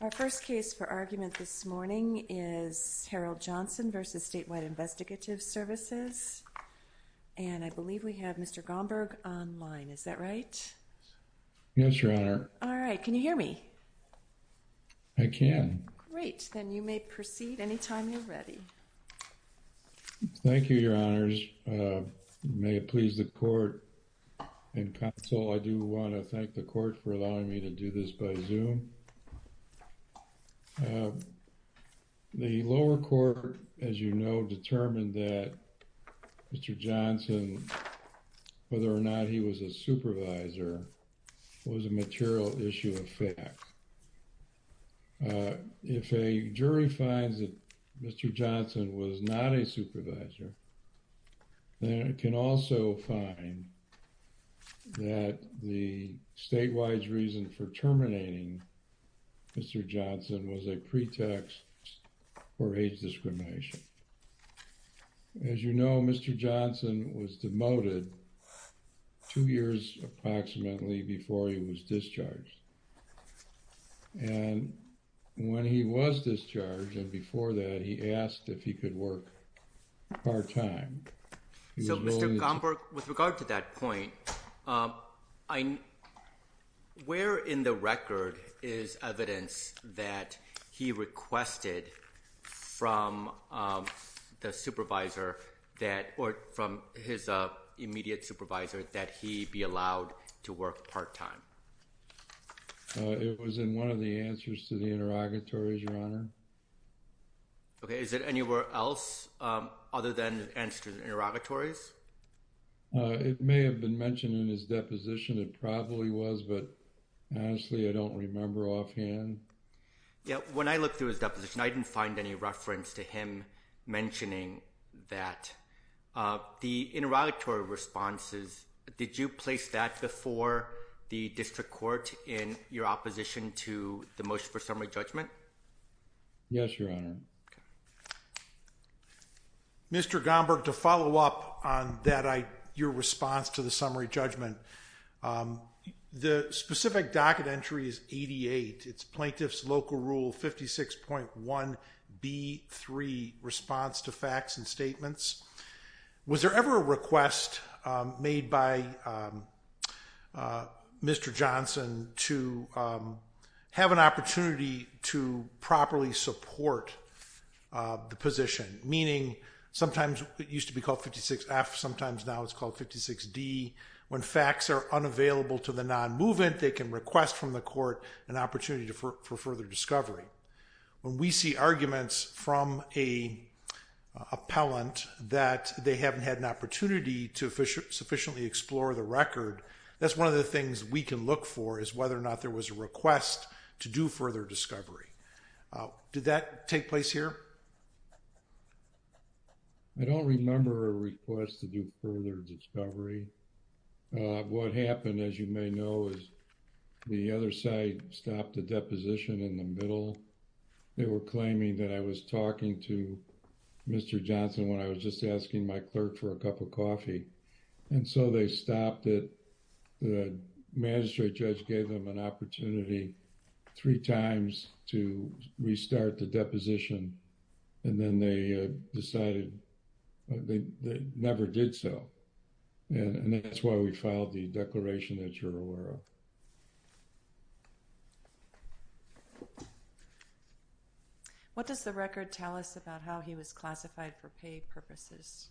Our first case for argument this morning is Harold Johnson v. Statewide Investigative Services, and I believe we have Mr. Gomberg online, is that right? Yes, Your Honor. All right, can you hear me? I can. Thank you, Your Honors. May it please the court and counsel, I do want to thank the court for allowing me to do this by Zoom. The lower court, as you know, determined that Mr. Johnson, whether or not he was a supervisor, was a material issue of fact. If a jury finds that Mr. Johnson was not a supervisor, then it can also find that the statewide reason for terminating Mr. Johnson was a pretext for age discrimination. As you know, Mr. Johnson was demoted two years approximately before he was discharged, and when he was discharged and before that, he asked if he could work part-time. So Mr. Gomberg, with regard to that point, where in the record is evidence that he requested from the supervisor that, or from his immediate supervisor, that he be allowed to work part-time? It was in one of the answers to the interrogatories, Your Honor. Okay, is it anywhere else other than the answers to the interrogatories? It may have been mentioned in his deposition, it probably was, but honestly, I don't remember offhand. Yeah, when I looked through his deposition, I didn't find any reference to him mentioning that. The interrogatory responses, did you place that before the district court in your opposition to the motion for summary judgment? Yes, Your Honor. Okay. Mr. Gomberg, to follow up on that, your response to the summary judgment, the specific docket entry is 88. It's Plaintiff's Local Rule 56.1b3, response to facts and statements. Was there ever a request made by Mr. Johnson to have an opportunity to properly support the position? Meaning, sometimes it used to be called 56F, sometimes now it's called 56D. When facts are unavailable to the non-movement, they can request from the court an opportunity for further discovery. When we see arguments from an appellant that they haven't had an opportunity to sufficiently explore the record, that's one of the things we can look for is whether or not there was a request to do further discovery. Did that take place here? I don't remember a request to do further discovery. What happened, as you may know, is the other side stopped the deposition in the middle. They were claiming that I was talking to Mr. Johnson when I was just asking my clerk for a cup of coffee. And so they stopped it. The magistrate judge gave them an opportunity three times to restart the deposition. And then they decided they never did so. And that's why we filed the declaration that you're aware of. What does the record tell us about how he was classified for pay purposes?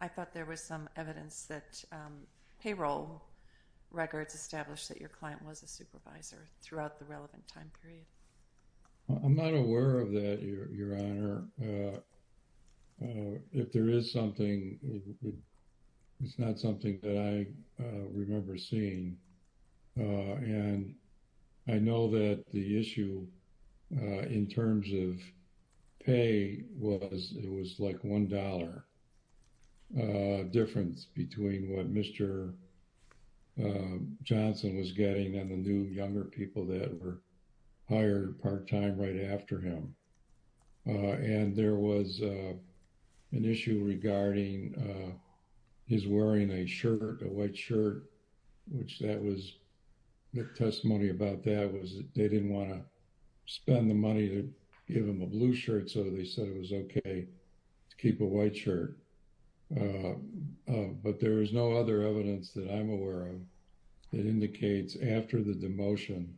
I thought there was some evidence that payroll records established that your client was a supervisor throughout the relevant time period. I'm not aware of that, Your Honor. If there is something, it's not something that I remember seeing. And I know that the issue in terms of pay was it was like $1 difference between what Mr. Johnson was getting and the new younger people that were hired part time right after him. And there was an issue regarding his wearing a shirt, a white shirt, which that was the testimony about that was they didn't want to spend the money to give him a blue shirt. So they said it was OK to keep a white shirt. But there is no other evidence that I'm aware of that indicates after the demotion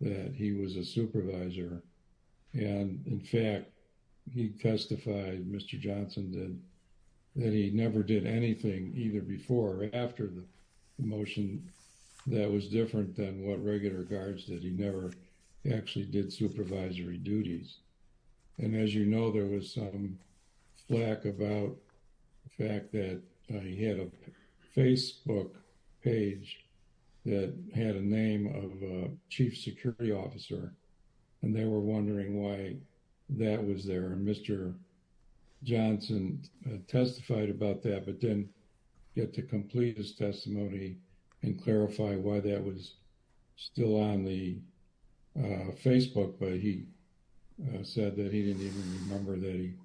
that he was a supervisor. And in fact, he testified, Mr. Johnson, that he never did anything either before or after the motion that was different than what regular guards did. He never actually did supervisory duties. And as you know, there was some flack about the fact that he had a Facebook page that had a name of a chief security officer. And they were wondering why that was there. And Mr. Johnson testified about that, but didn't get to complete his testimony and clarify why that was still on the Facebook. But he said that he didn't even remember that he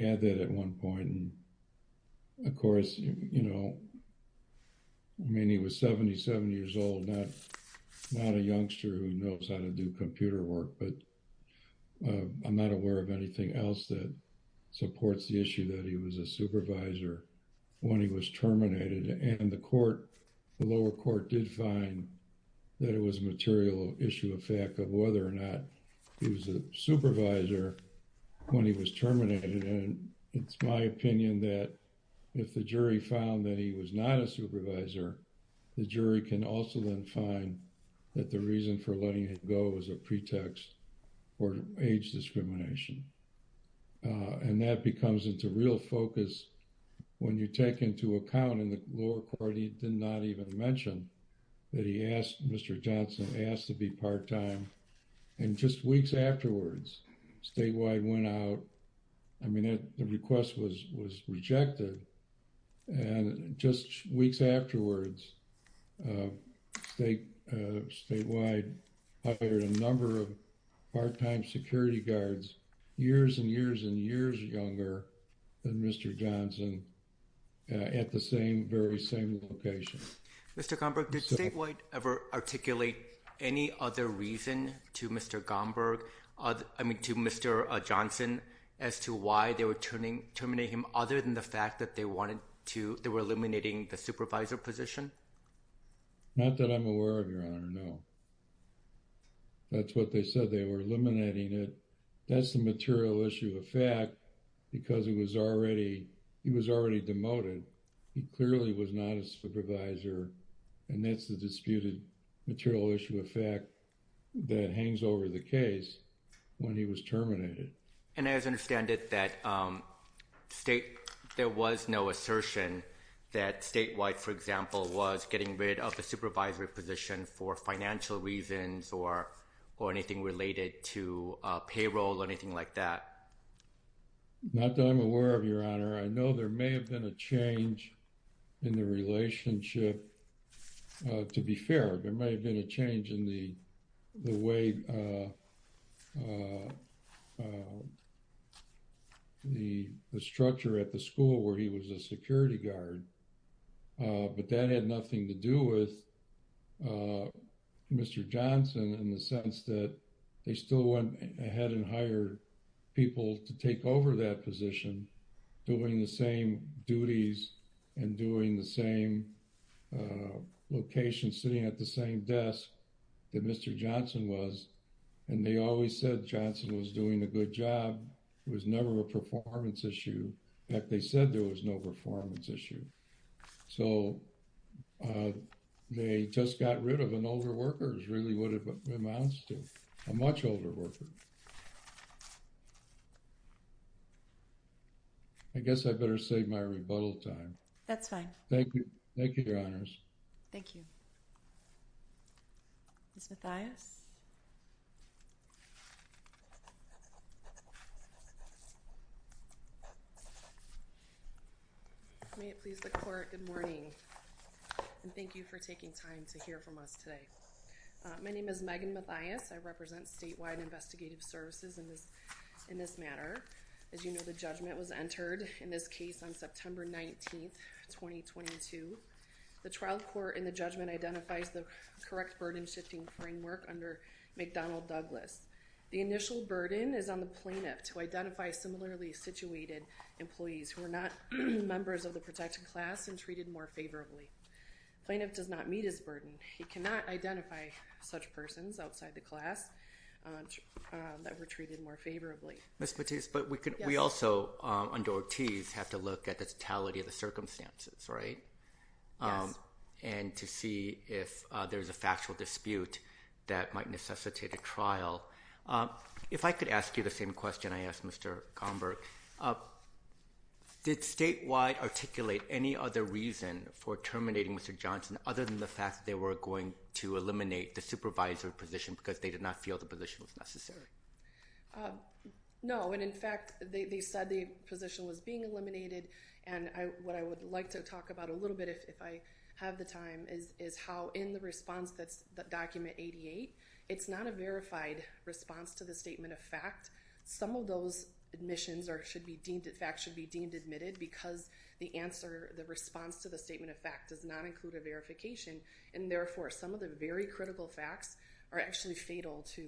had that at one point. And of course, I mean, he was 77 years old, not a youngster who knows how to do computer work. But I'm not aware of anything else that supports the issue that he was a supervisor when he was terminated. And the lower court did find that it was a material issue of fact of whether or not he was a supervisor when he was terminated. And it's my opinion that if the jury found that he was not a supervisor, the jury can also then find that the reason for letting him go was a pretext for age discrimination. And that becomes into real focus when you take into account in the lower court, he did not even mention that he asked, Mr. Johnson asked to be part-time. And just weeks afterwards, Statewide went out. I mean, the request was rejected. And just weeks afterwards, Statewide hired a number of part-time security guards, years and years and years younger than Mr. Johnson at the same very same location. Mr. Gomberg, did Statewide ever articulate any other reason to Mr. Gomberg, I mean, to Mr. Johnson as to why they were terminating him other than the fact that they wanted to, they were eliminating the supervisor position? Not that I'm aware of, Your Honor, no. That's what they said, they were eliminating it. That's the material issue of fact because he was already demoted. He clearly was not a supervisor. And that's the disputed material issue of fact that hangs over the case when he was terminated. And as I understand it, there was no assertion that Statewide, for example, was getting rid of the supervisory position for financial reasons or anything related to payroll or anything like that? Your Honor, I know there may have been a change in the relationship. To be fair, there may have been a change in the way the structure at the school where he was a security guard. But that had nothing to do with Mr. Johnson in the sense that they still went ahead and hired people to take over that position, doing the same duties and doing the same location, sitting at the same desk that Mr. Johnson was. And they always said Johnson was doing a good job. It was never a performance issue. In fact, they said there was no performance issue. So, they just got rid of an older worker is really what it amounts to, a much older worker. I guess I better save my rebuttal time. That's fine. Thank you. Thank you, Your Honors. Thank you. Ms. Mathias? May it please the Court, good morning, and thank you for taking time to hear from us today. My name is Megan Mathias. I represent Statewide Investigative Services in this matter. As you know, the judgment was entered in this case on September 19, 2022. The trial court in the judgment identifies the correct burden-shifting framework under McDonnell Douglas. The initial burden is on the plaintiff to identify similarly situated employees who are not members of the protected class and treated more favorably. The plaintiff does not meet his burden. He cannot identify such persons outside the class that were treated more favorably. Ms. Mathias, but we also, under Ortiz, have to look at the totality of the circumstances, right? Yes. And to see if there's a factual dispute that might necessitate a trial. If I could ask you the same question I asked Mr. Gomberg, did Statewide articulate any other reason for terminating Mr. Johnson other than the fact that they were going to eliminate the supervisor position because they did not feel the position was necessary? No. And in fact, they said the position was being eliminated. And what I would like to talk about a little bit, if I have the time, is how in the response that's document 88, it's not a verified response to the statement of fact. Some of those admissions or should be deemed, in fact, should be deemed admitted because the answer, the response to the statement of fact does not include a verification. And therefore, some of the very critical facts are actually fatal to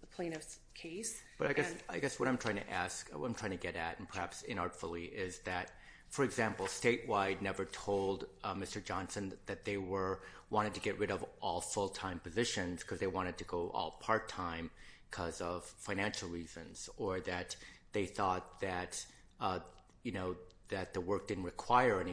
the plaintiff's case. But I guess what I'm trying to ask, what I'm trying to get at, and perhaps inartfully, is that, for example, Statewide never told Mr. Johnson that they wanted to get rid of all full-time positions because they wanted to go all part-time because of financial reasons. Or that they thought that the work didn't require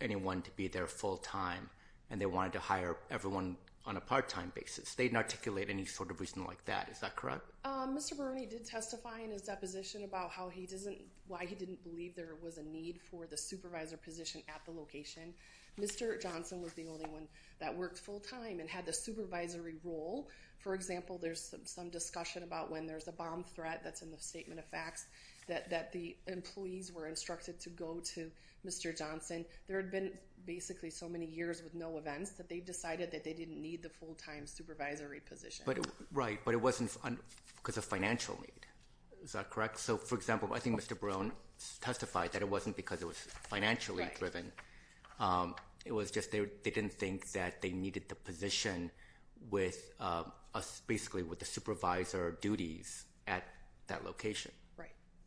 anyone to be there full-time and they wanted to hire everyone on a part-time basis. They didn't articulate any sort of reason like that. Is that correct? Mr. Bruni did testify in his deposition about how he doesn't, why he didn't believe there was a need for the supervisor position at the location. Mr. Johnson was the only one that worked full-time and had the supervisory role. For example, there's some discussion about when there's a bomb threat that's in the statement of facts that the employees were instructed to go to Mr. Johnson. There had been basically so many years with no events that they decided that they didn't need the full-time supervisory position. Right, but it wasn't because of financial need. Is that correct? So, for example, I think Mr. Bruni testified that it wasn't because it was financially driven. It was just they didn't think that they needed the position with, basically, with the supervisor duties at that location.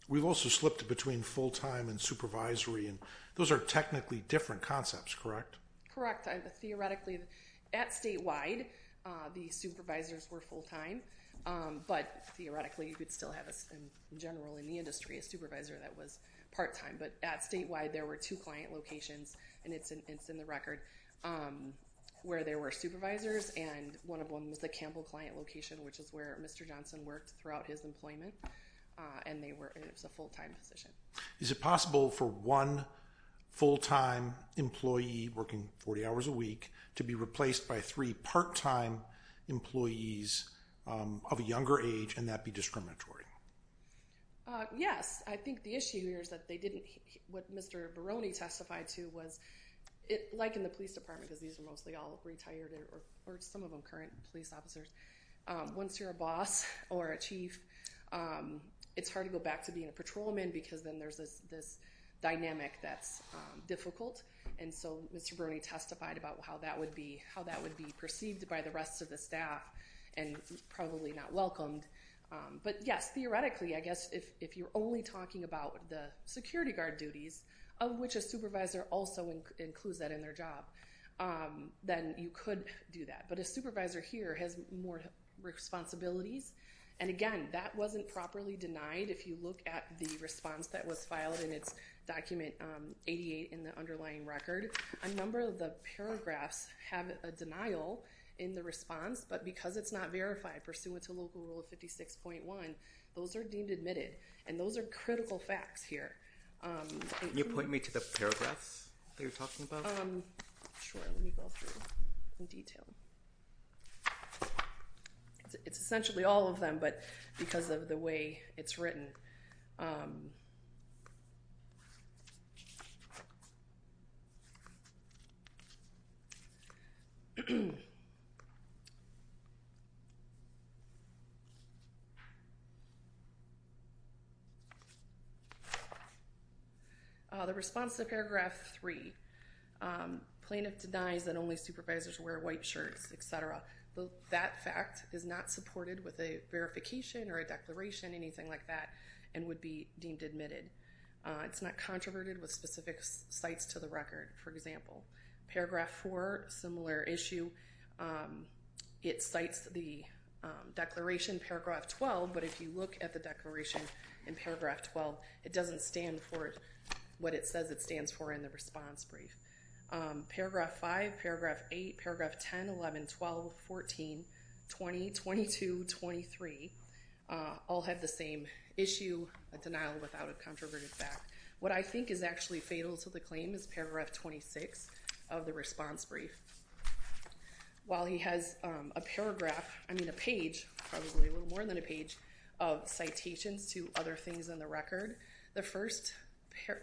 We've also slipped between full-time and supervisory, and those are technically different concepts, correct? Correct. Theoretically, at statewide, the supervisors were full-time, but theoretically, you could still have, in general, in the industry, a supervisor that was part-time. But at statewide, there were two client locations, and it's in the record, where there were supervisors, and one of them was the Campbell client location, which is where Mr. Johnson worked throughout his employment, and it was a full-time position. Is it possible for one full-time employee working 40 hours a week to be replaced by three part-time employees of a younger age, and that be discriminatory? Yes. I think the issue here is that they didn't – what Mr. Bruni testified to was, like in the police department, because these are mostly all retired or some of them current police officers, once you're a boss or a chief, it's hard to go back to being a patrolman because then there's this dynamic that's difficult. And so Mr. Bruni testified about how that would be perceived by the rest of the staff and probably not welcomed. But yes, theoretically, I guess if you're only talking about the security guard duties, of which a supervisor also includes that in their job, then you could do that. But a supervisor here has more responsibilities, and again, that wasn't properly denied. If you look at the response that was filed in its document 88 in the underlying record, a number of the paragraphs have a denial in the response, but because it's not verified pursuant to Local Rule 56.1, those are deemed admitted, and those are critical facts here. Can you point me to the paragraphs that you're talking about? Sure, let me go through in detail. It's essentially all of them, but because of the way it's written. The response to paragraph 3, plaintiff denies that only supervisors wear white shirts, etc. That fact is not supported with a verification or a declaration, anything like that, and would be deemed admitted. It's not controverted with specific cites to the record, for example. Paragraph 4, similar issue. It cites the declaration, paragraph 12, but if you look at the declaration in paragraph 12, it doesn't stand for what it says it stands for in the response brief. Paragraph 5, paragraph 8, paragraph 10, 11, 12, 14, 20, 22, 23, all have the same issue, a denial without a controverted fact. What I think is actually fatal to the claim is paragraph 26 of the response brief. While he has a paragraph, I mean a page, probably a little more than a page, of citations to other things in the record, the first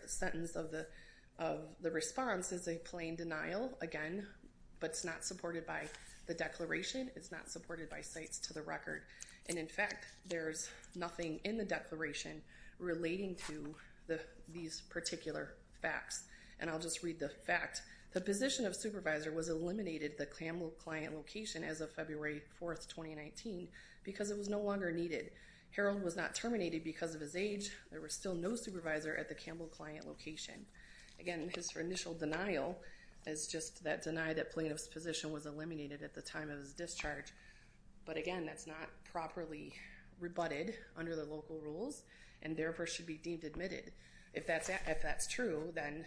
sentence of the response is a plain denial, again, but it's not supported by the declaration, it's not supported by cites to the record, and in fact, there's nothing in the declaration relating to these particular facts. And I'll just read the fact. The position of supervisor was eliminated, the Campbell client location, as of February 4, 2019, because it was no longer needed. Harold was not terminated because of his age. There was still no supervisor at the Campbell client location. Again, his initial denial is just that deny that plaintiff's position was eliminated at the time of his discharge. But again, that's not properly rebutted under the local rules, and therefore should be deemed admitted. If that's true, then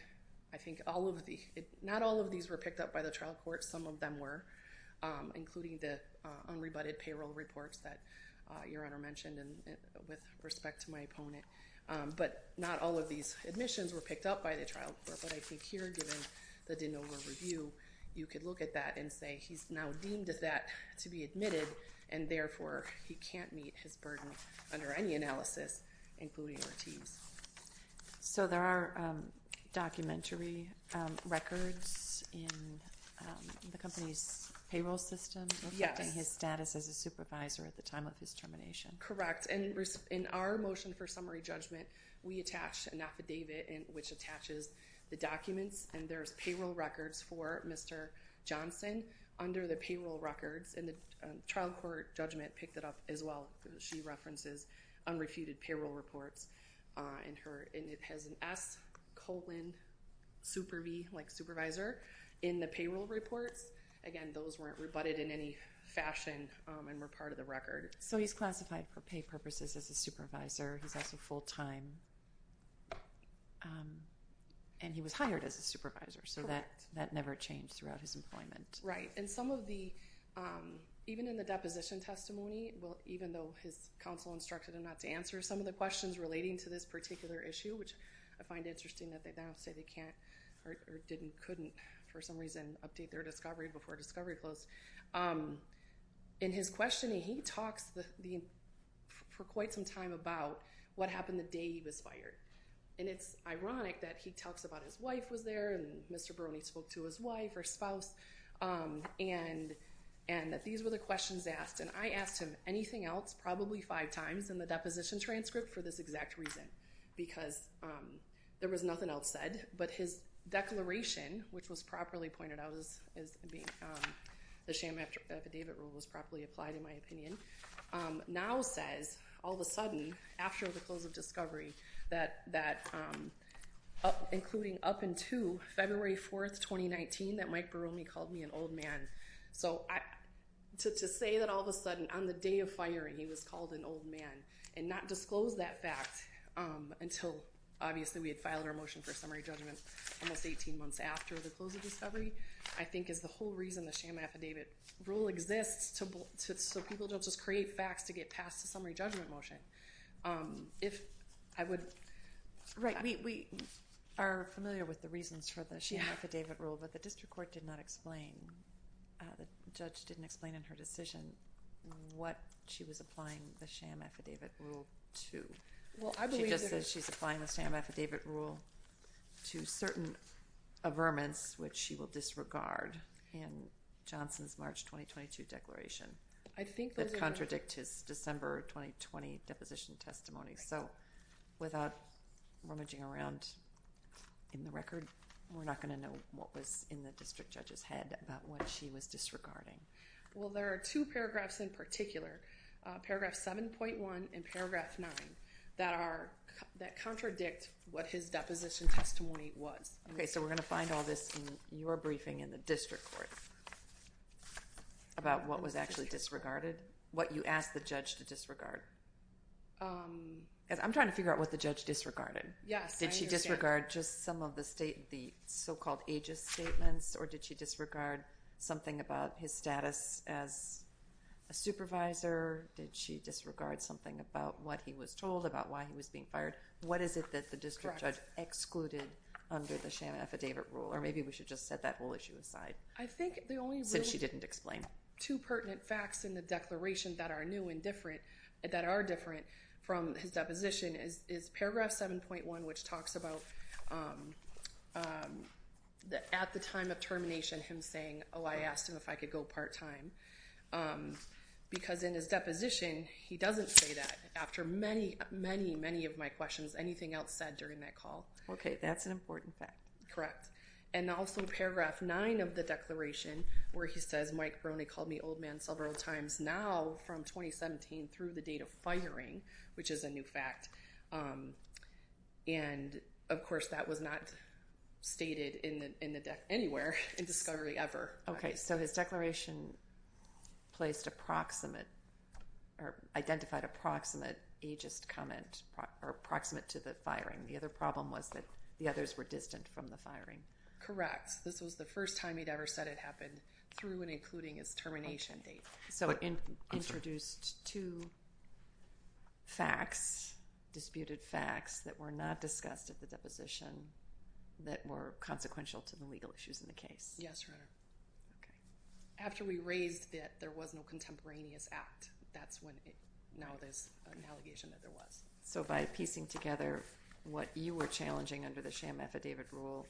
I think all of the, not all of these were picked up by the trial court. Some of them were, including the unrebutted payroll reports that Your Honor mentioned with respect to my opponent. But not all of these admissions were picked up by the trial court. But I think here, given the de novo review, you could look at that and say he's now deemed that to be admitted, and therefore he can't meet his burden under any analysis, including our team's. So there are documentary records in the company's payroll system reflecting his status as a supervisor at the time of his termination. Correct. And in our motion for summary judgment, we attach an affidavit which attaches the documents, and there's payroll records for Mr. Johnson under the payroll records, and the trial court judgment picked it up as well. She references unrefuted payroll reports, and it has an S colon superv, like supervisor, in the payroll reports. Again, those weren't rebutted in any fashion and were part of the record. So he's classified for pay purposes as a supervisor. He's also full-time, and he was hired as a supervisor. So that never changed throughout his employment. Right, and some of the, even in the deposition testimony, even though his counsel instructed him not to answer some of the questions relating to this particular issue, which I find interesting that they now say they can't or didn't, couldn't, for some reason, update their discovery before discovery closed. In his questioning, he talks for quite some time about what happened the day he was fired. And it's ironic that he talks about his wife was there, and Mr. Barone spoke to his wife or spouse, and that these were the questions asked. And I asked him anything else probably five times in the deposition transcript for this exact reason, because there was nothing else said. But his declaration, which was properly pointed out as being the sham affidavit rule was properly applied, in my opinion, now says, all of a sudden, after the close of discovery, that, including up until February 4th, 2019, that Mike Barone called me an old man. So to say that all of a sudden, on the day of firing, he was called an old man, and not disclose that fact until, obviously, we had filed our motion for summary judgment almost 18 months after the close of discovery, I think is the whole reason the sham affidavit rule exists, so people don't just create facts to get past the summary judgment motion. If I would. Right, we are familiar with the reasons for the sham affidavit rule, but the district court did not explain, the judge didn't explain in her decision what she was applying the sham affidavit rule to. She just said she's applying the sham affidavit rule to certain averments, which she will disregard in Johnson's March 2022 declaration, that contradict his December 2020 deposition testimony. So without rummaging around in the record, we're not going to know what was in the district judge's head about what she was disregarding. Well, there are two paragraphs in particular, paragraph 7.1 and paragraph 9, that contradict what his deposition testimony was. Okay, so we're going to find all this in your briefing in the district court about what was actually disregarded, what you asked the judge to disregard. I'm trying to figure out what the judge disregarded. Yes. Did she disregard just some of the state, the so-called aegis statements, or did she disregard something about his status as a supervisor? Did she disregard something about what he was told about why he was being fired? What is it that the district judge excluded under the sham affidavit rule? Or maybe we should just set that whole issue aside, since she didn't explain. Two pertinent facts in the declaration that are new and different, that are different from his deposition is paragraph 7.1, which talks about at the time of termination, him saying, oh, I asked him if I could go part-time. Because in his deposition, he doesn't say that. After many, many, many of my questions, anything else said during that call. Okay, that's an important fact. Correct. And also paragraph 9 of the declaration, where he says, Mike Brony called me old man several times now from 2017 through the date of firing, which is a new fact. And, of course, that was not stated anywhere in discovery ever. Okay, so his declaration placed approximate, or identified approximate aegis comment, or approximate to the firing. The other problem was that the others were distant from the firing. Correct. This was the first time he'd ever said it happened through and including his termination date. So it introduced two facts, disputed facts, that were not discussed at the deposition that were consequential to the legal issues in the case. Yes, Your Honor. Okay. After we raised that there was no contemporaneous act, that's when it, now there's an allegation that there was. So by piecing together what you were challenging under the sham affidavit rule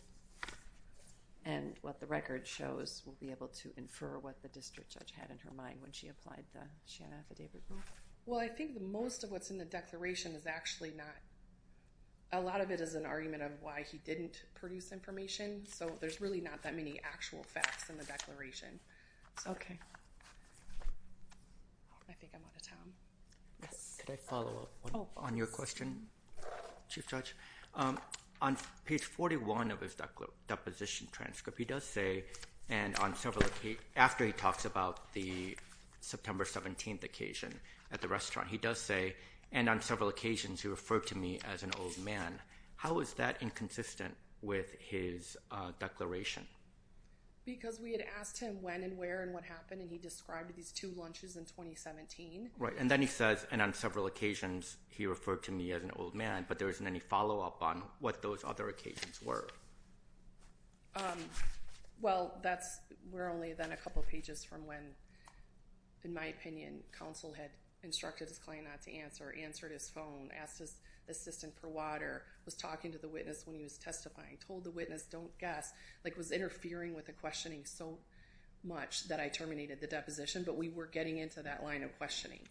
and what the record shows, we'll be able to infer what the district judge had in her mind when she applied the sham affidavit rule? Well, I think most of what's in the declaration is actually not, a lot of it is an argument of why he didn't produce information. So there's really not that many actual facts in the declaration. Okay. I think I'm out of time. Yes. Should I follow up on your question, Chief Judge? On page 41 of his deposition transcript, he does say, and on several occasions, after he talks about the September 17th occasion at the restaurant, he does say, and on several occasions he referred to me as an old man. How is that inconsistent with his declaration? Because we had asked him when and where and what happened, and he described these two lunches in 2017. Right. And then he says, and on several occasions he referred to me as an old man, but there isn't any follow-up on what those other occasions were. Well, that's where only then a couple pages from when, in my opinion, counsel had instructed his client not to answer, answered his phone, asked his assistant for water, was talking to the witness when he was testifying, told the witness don't guess, like was interfering with the questioning so much that I terminated the deposition, but we were getting into that line of questioning.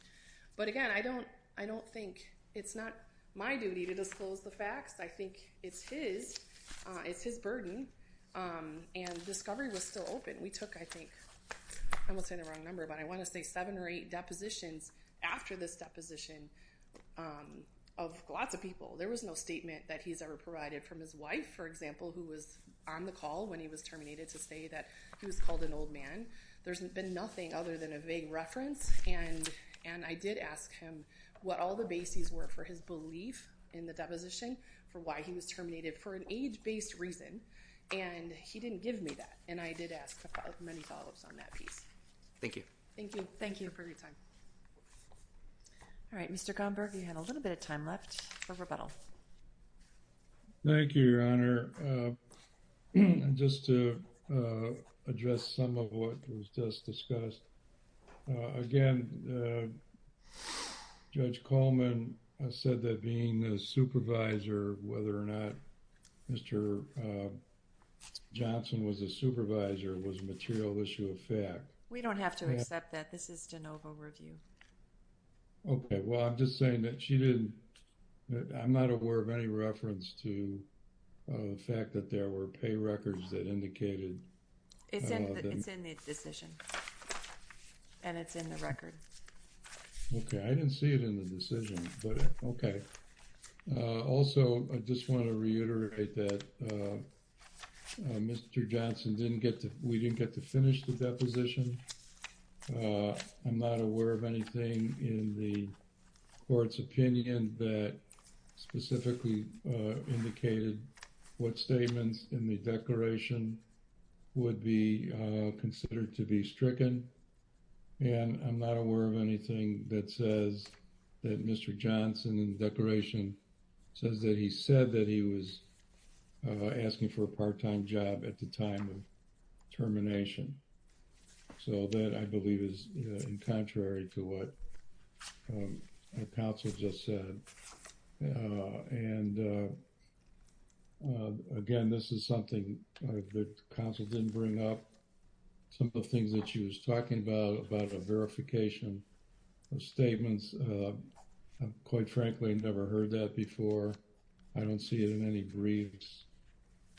But again, I don't think it's not my duty to disclose the facts. I think it's his. It's his burden, and discovery was still open. We took, I think, I'm almost saying the wrong number, but I want to say seven or eight depositions after this deposition of lots of people. There was no statement that he's ever provided from his wife, for example, who was on the call when he was terminated to say that he was called an old man. There's been nothing other than a vague reference, and I did ask him what all the bases were for his belief in the deposition, for why he was terminated, for an age-based reason, and he didn't give me that, and I did ask for many follow-ups on that piece. Thank you. Thank you. Thank you for your time. All right, Mr. Gomberg, you had a little bit of time left for rebuttal. Thank you, Your Honor. Just to address some of what was just discussed. Again, Judge Coleman said that being a supervisor, whether or not Mr. Johnson was a supervisor was a material issue of fact. We don't have to accept that. This is de novo review. Okay, well, I'm just saying that she didn't, I'm not aware of any reference to the fact that there were pay records that indicated... It's in the decision, and it's in the record. Okay, I didn't see it in the decision, but okay. Also, I just want to reiterate that Mr. Johnson didn't get to, we didn't get to finish the deposition. I'm not aware of anything in the court's opinion that specifically indicated what statements in the declaration would be considered to be stricken, and I'm not aware of anything that says that Mr. Johnson in the declaration says that he said that he was asking for a part-time job at the time of termination. So that, I believe, is in contrary to what our counsel just said. And again, this is something that counsel didn't bring up. Some of the things that she was talking about, about a verification of statements, quite frankly, I've never heard that before. I don't see it in any briefs.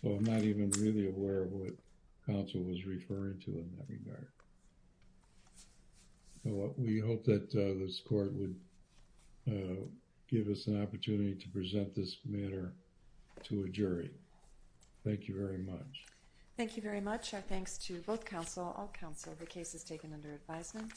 So I'm not even really aware of what counsel was referring to in that regard. We hope that this court would give us an opportunity to present this matter to a jury. Thank you very much. Thank you very much. Our thanks to both counsel, all counsel. The case is taken under advisement.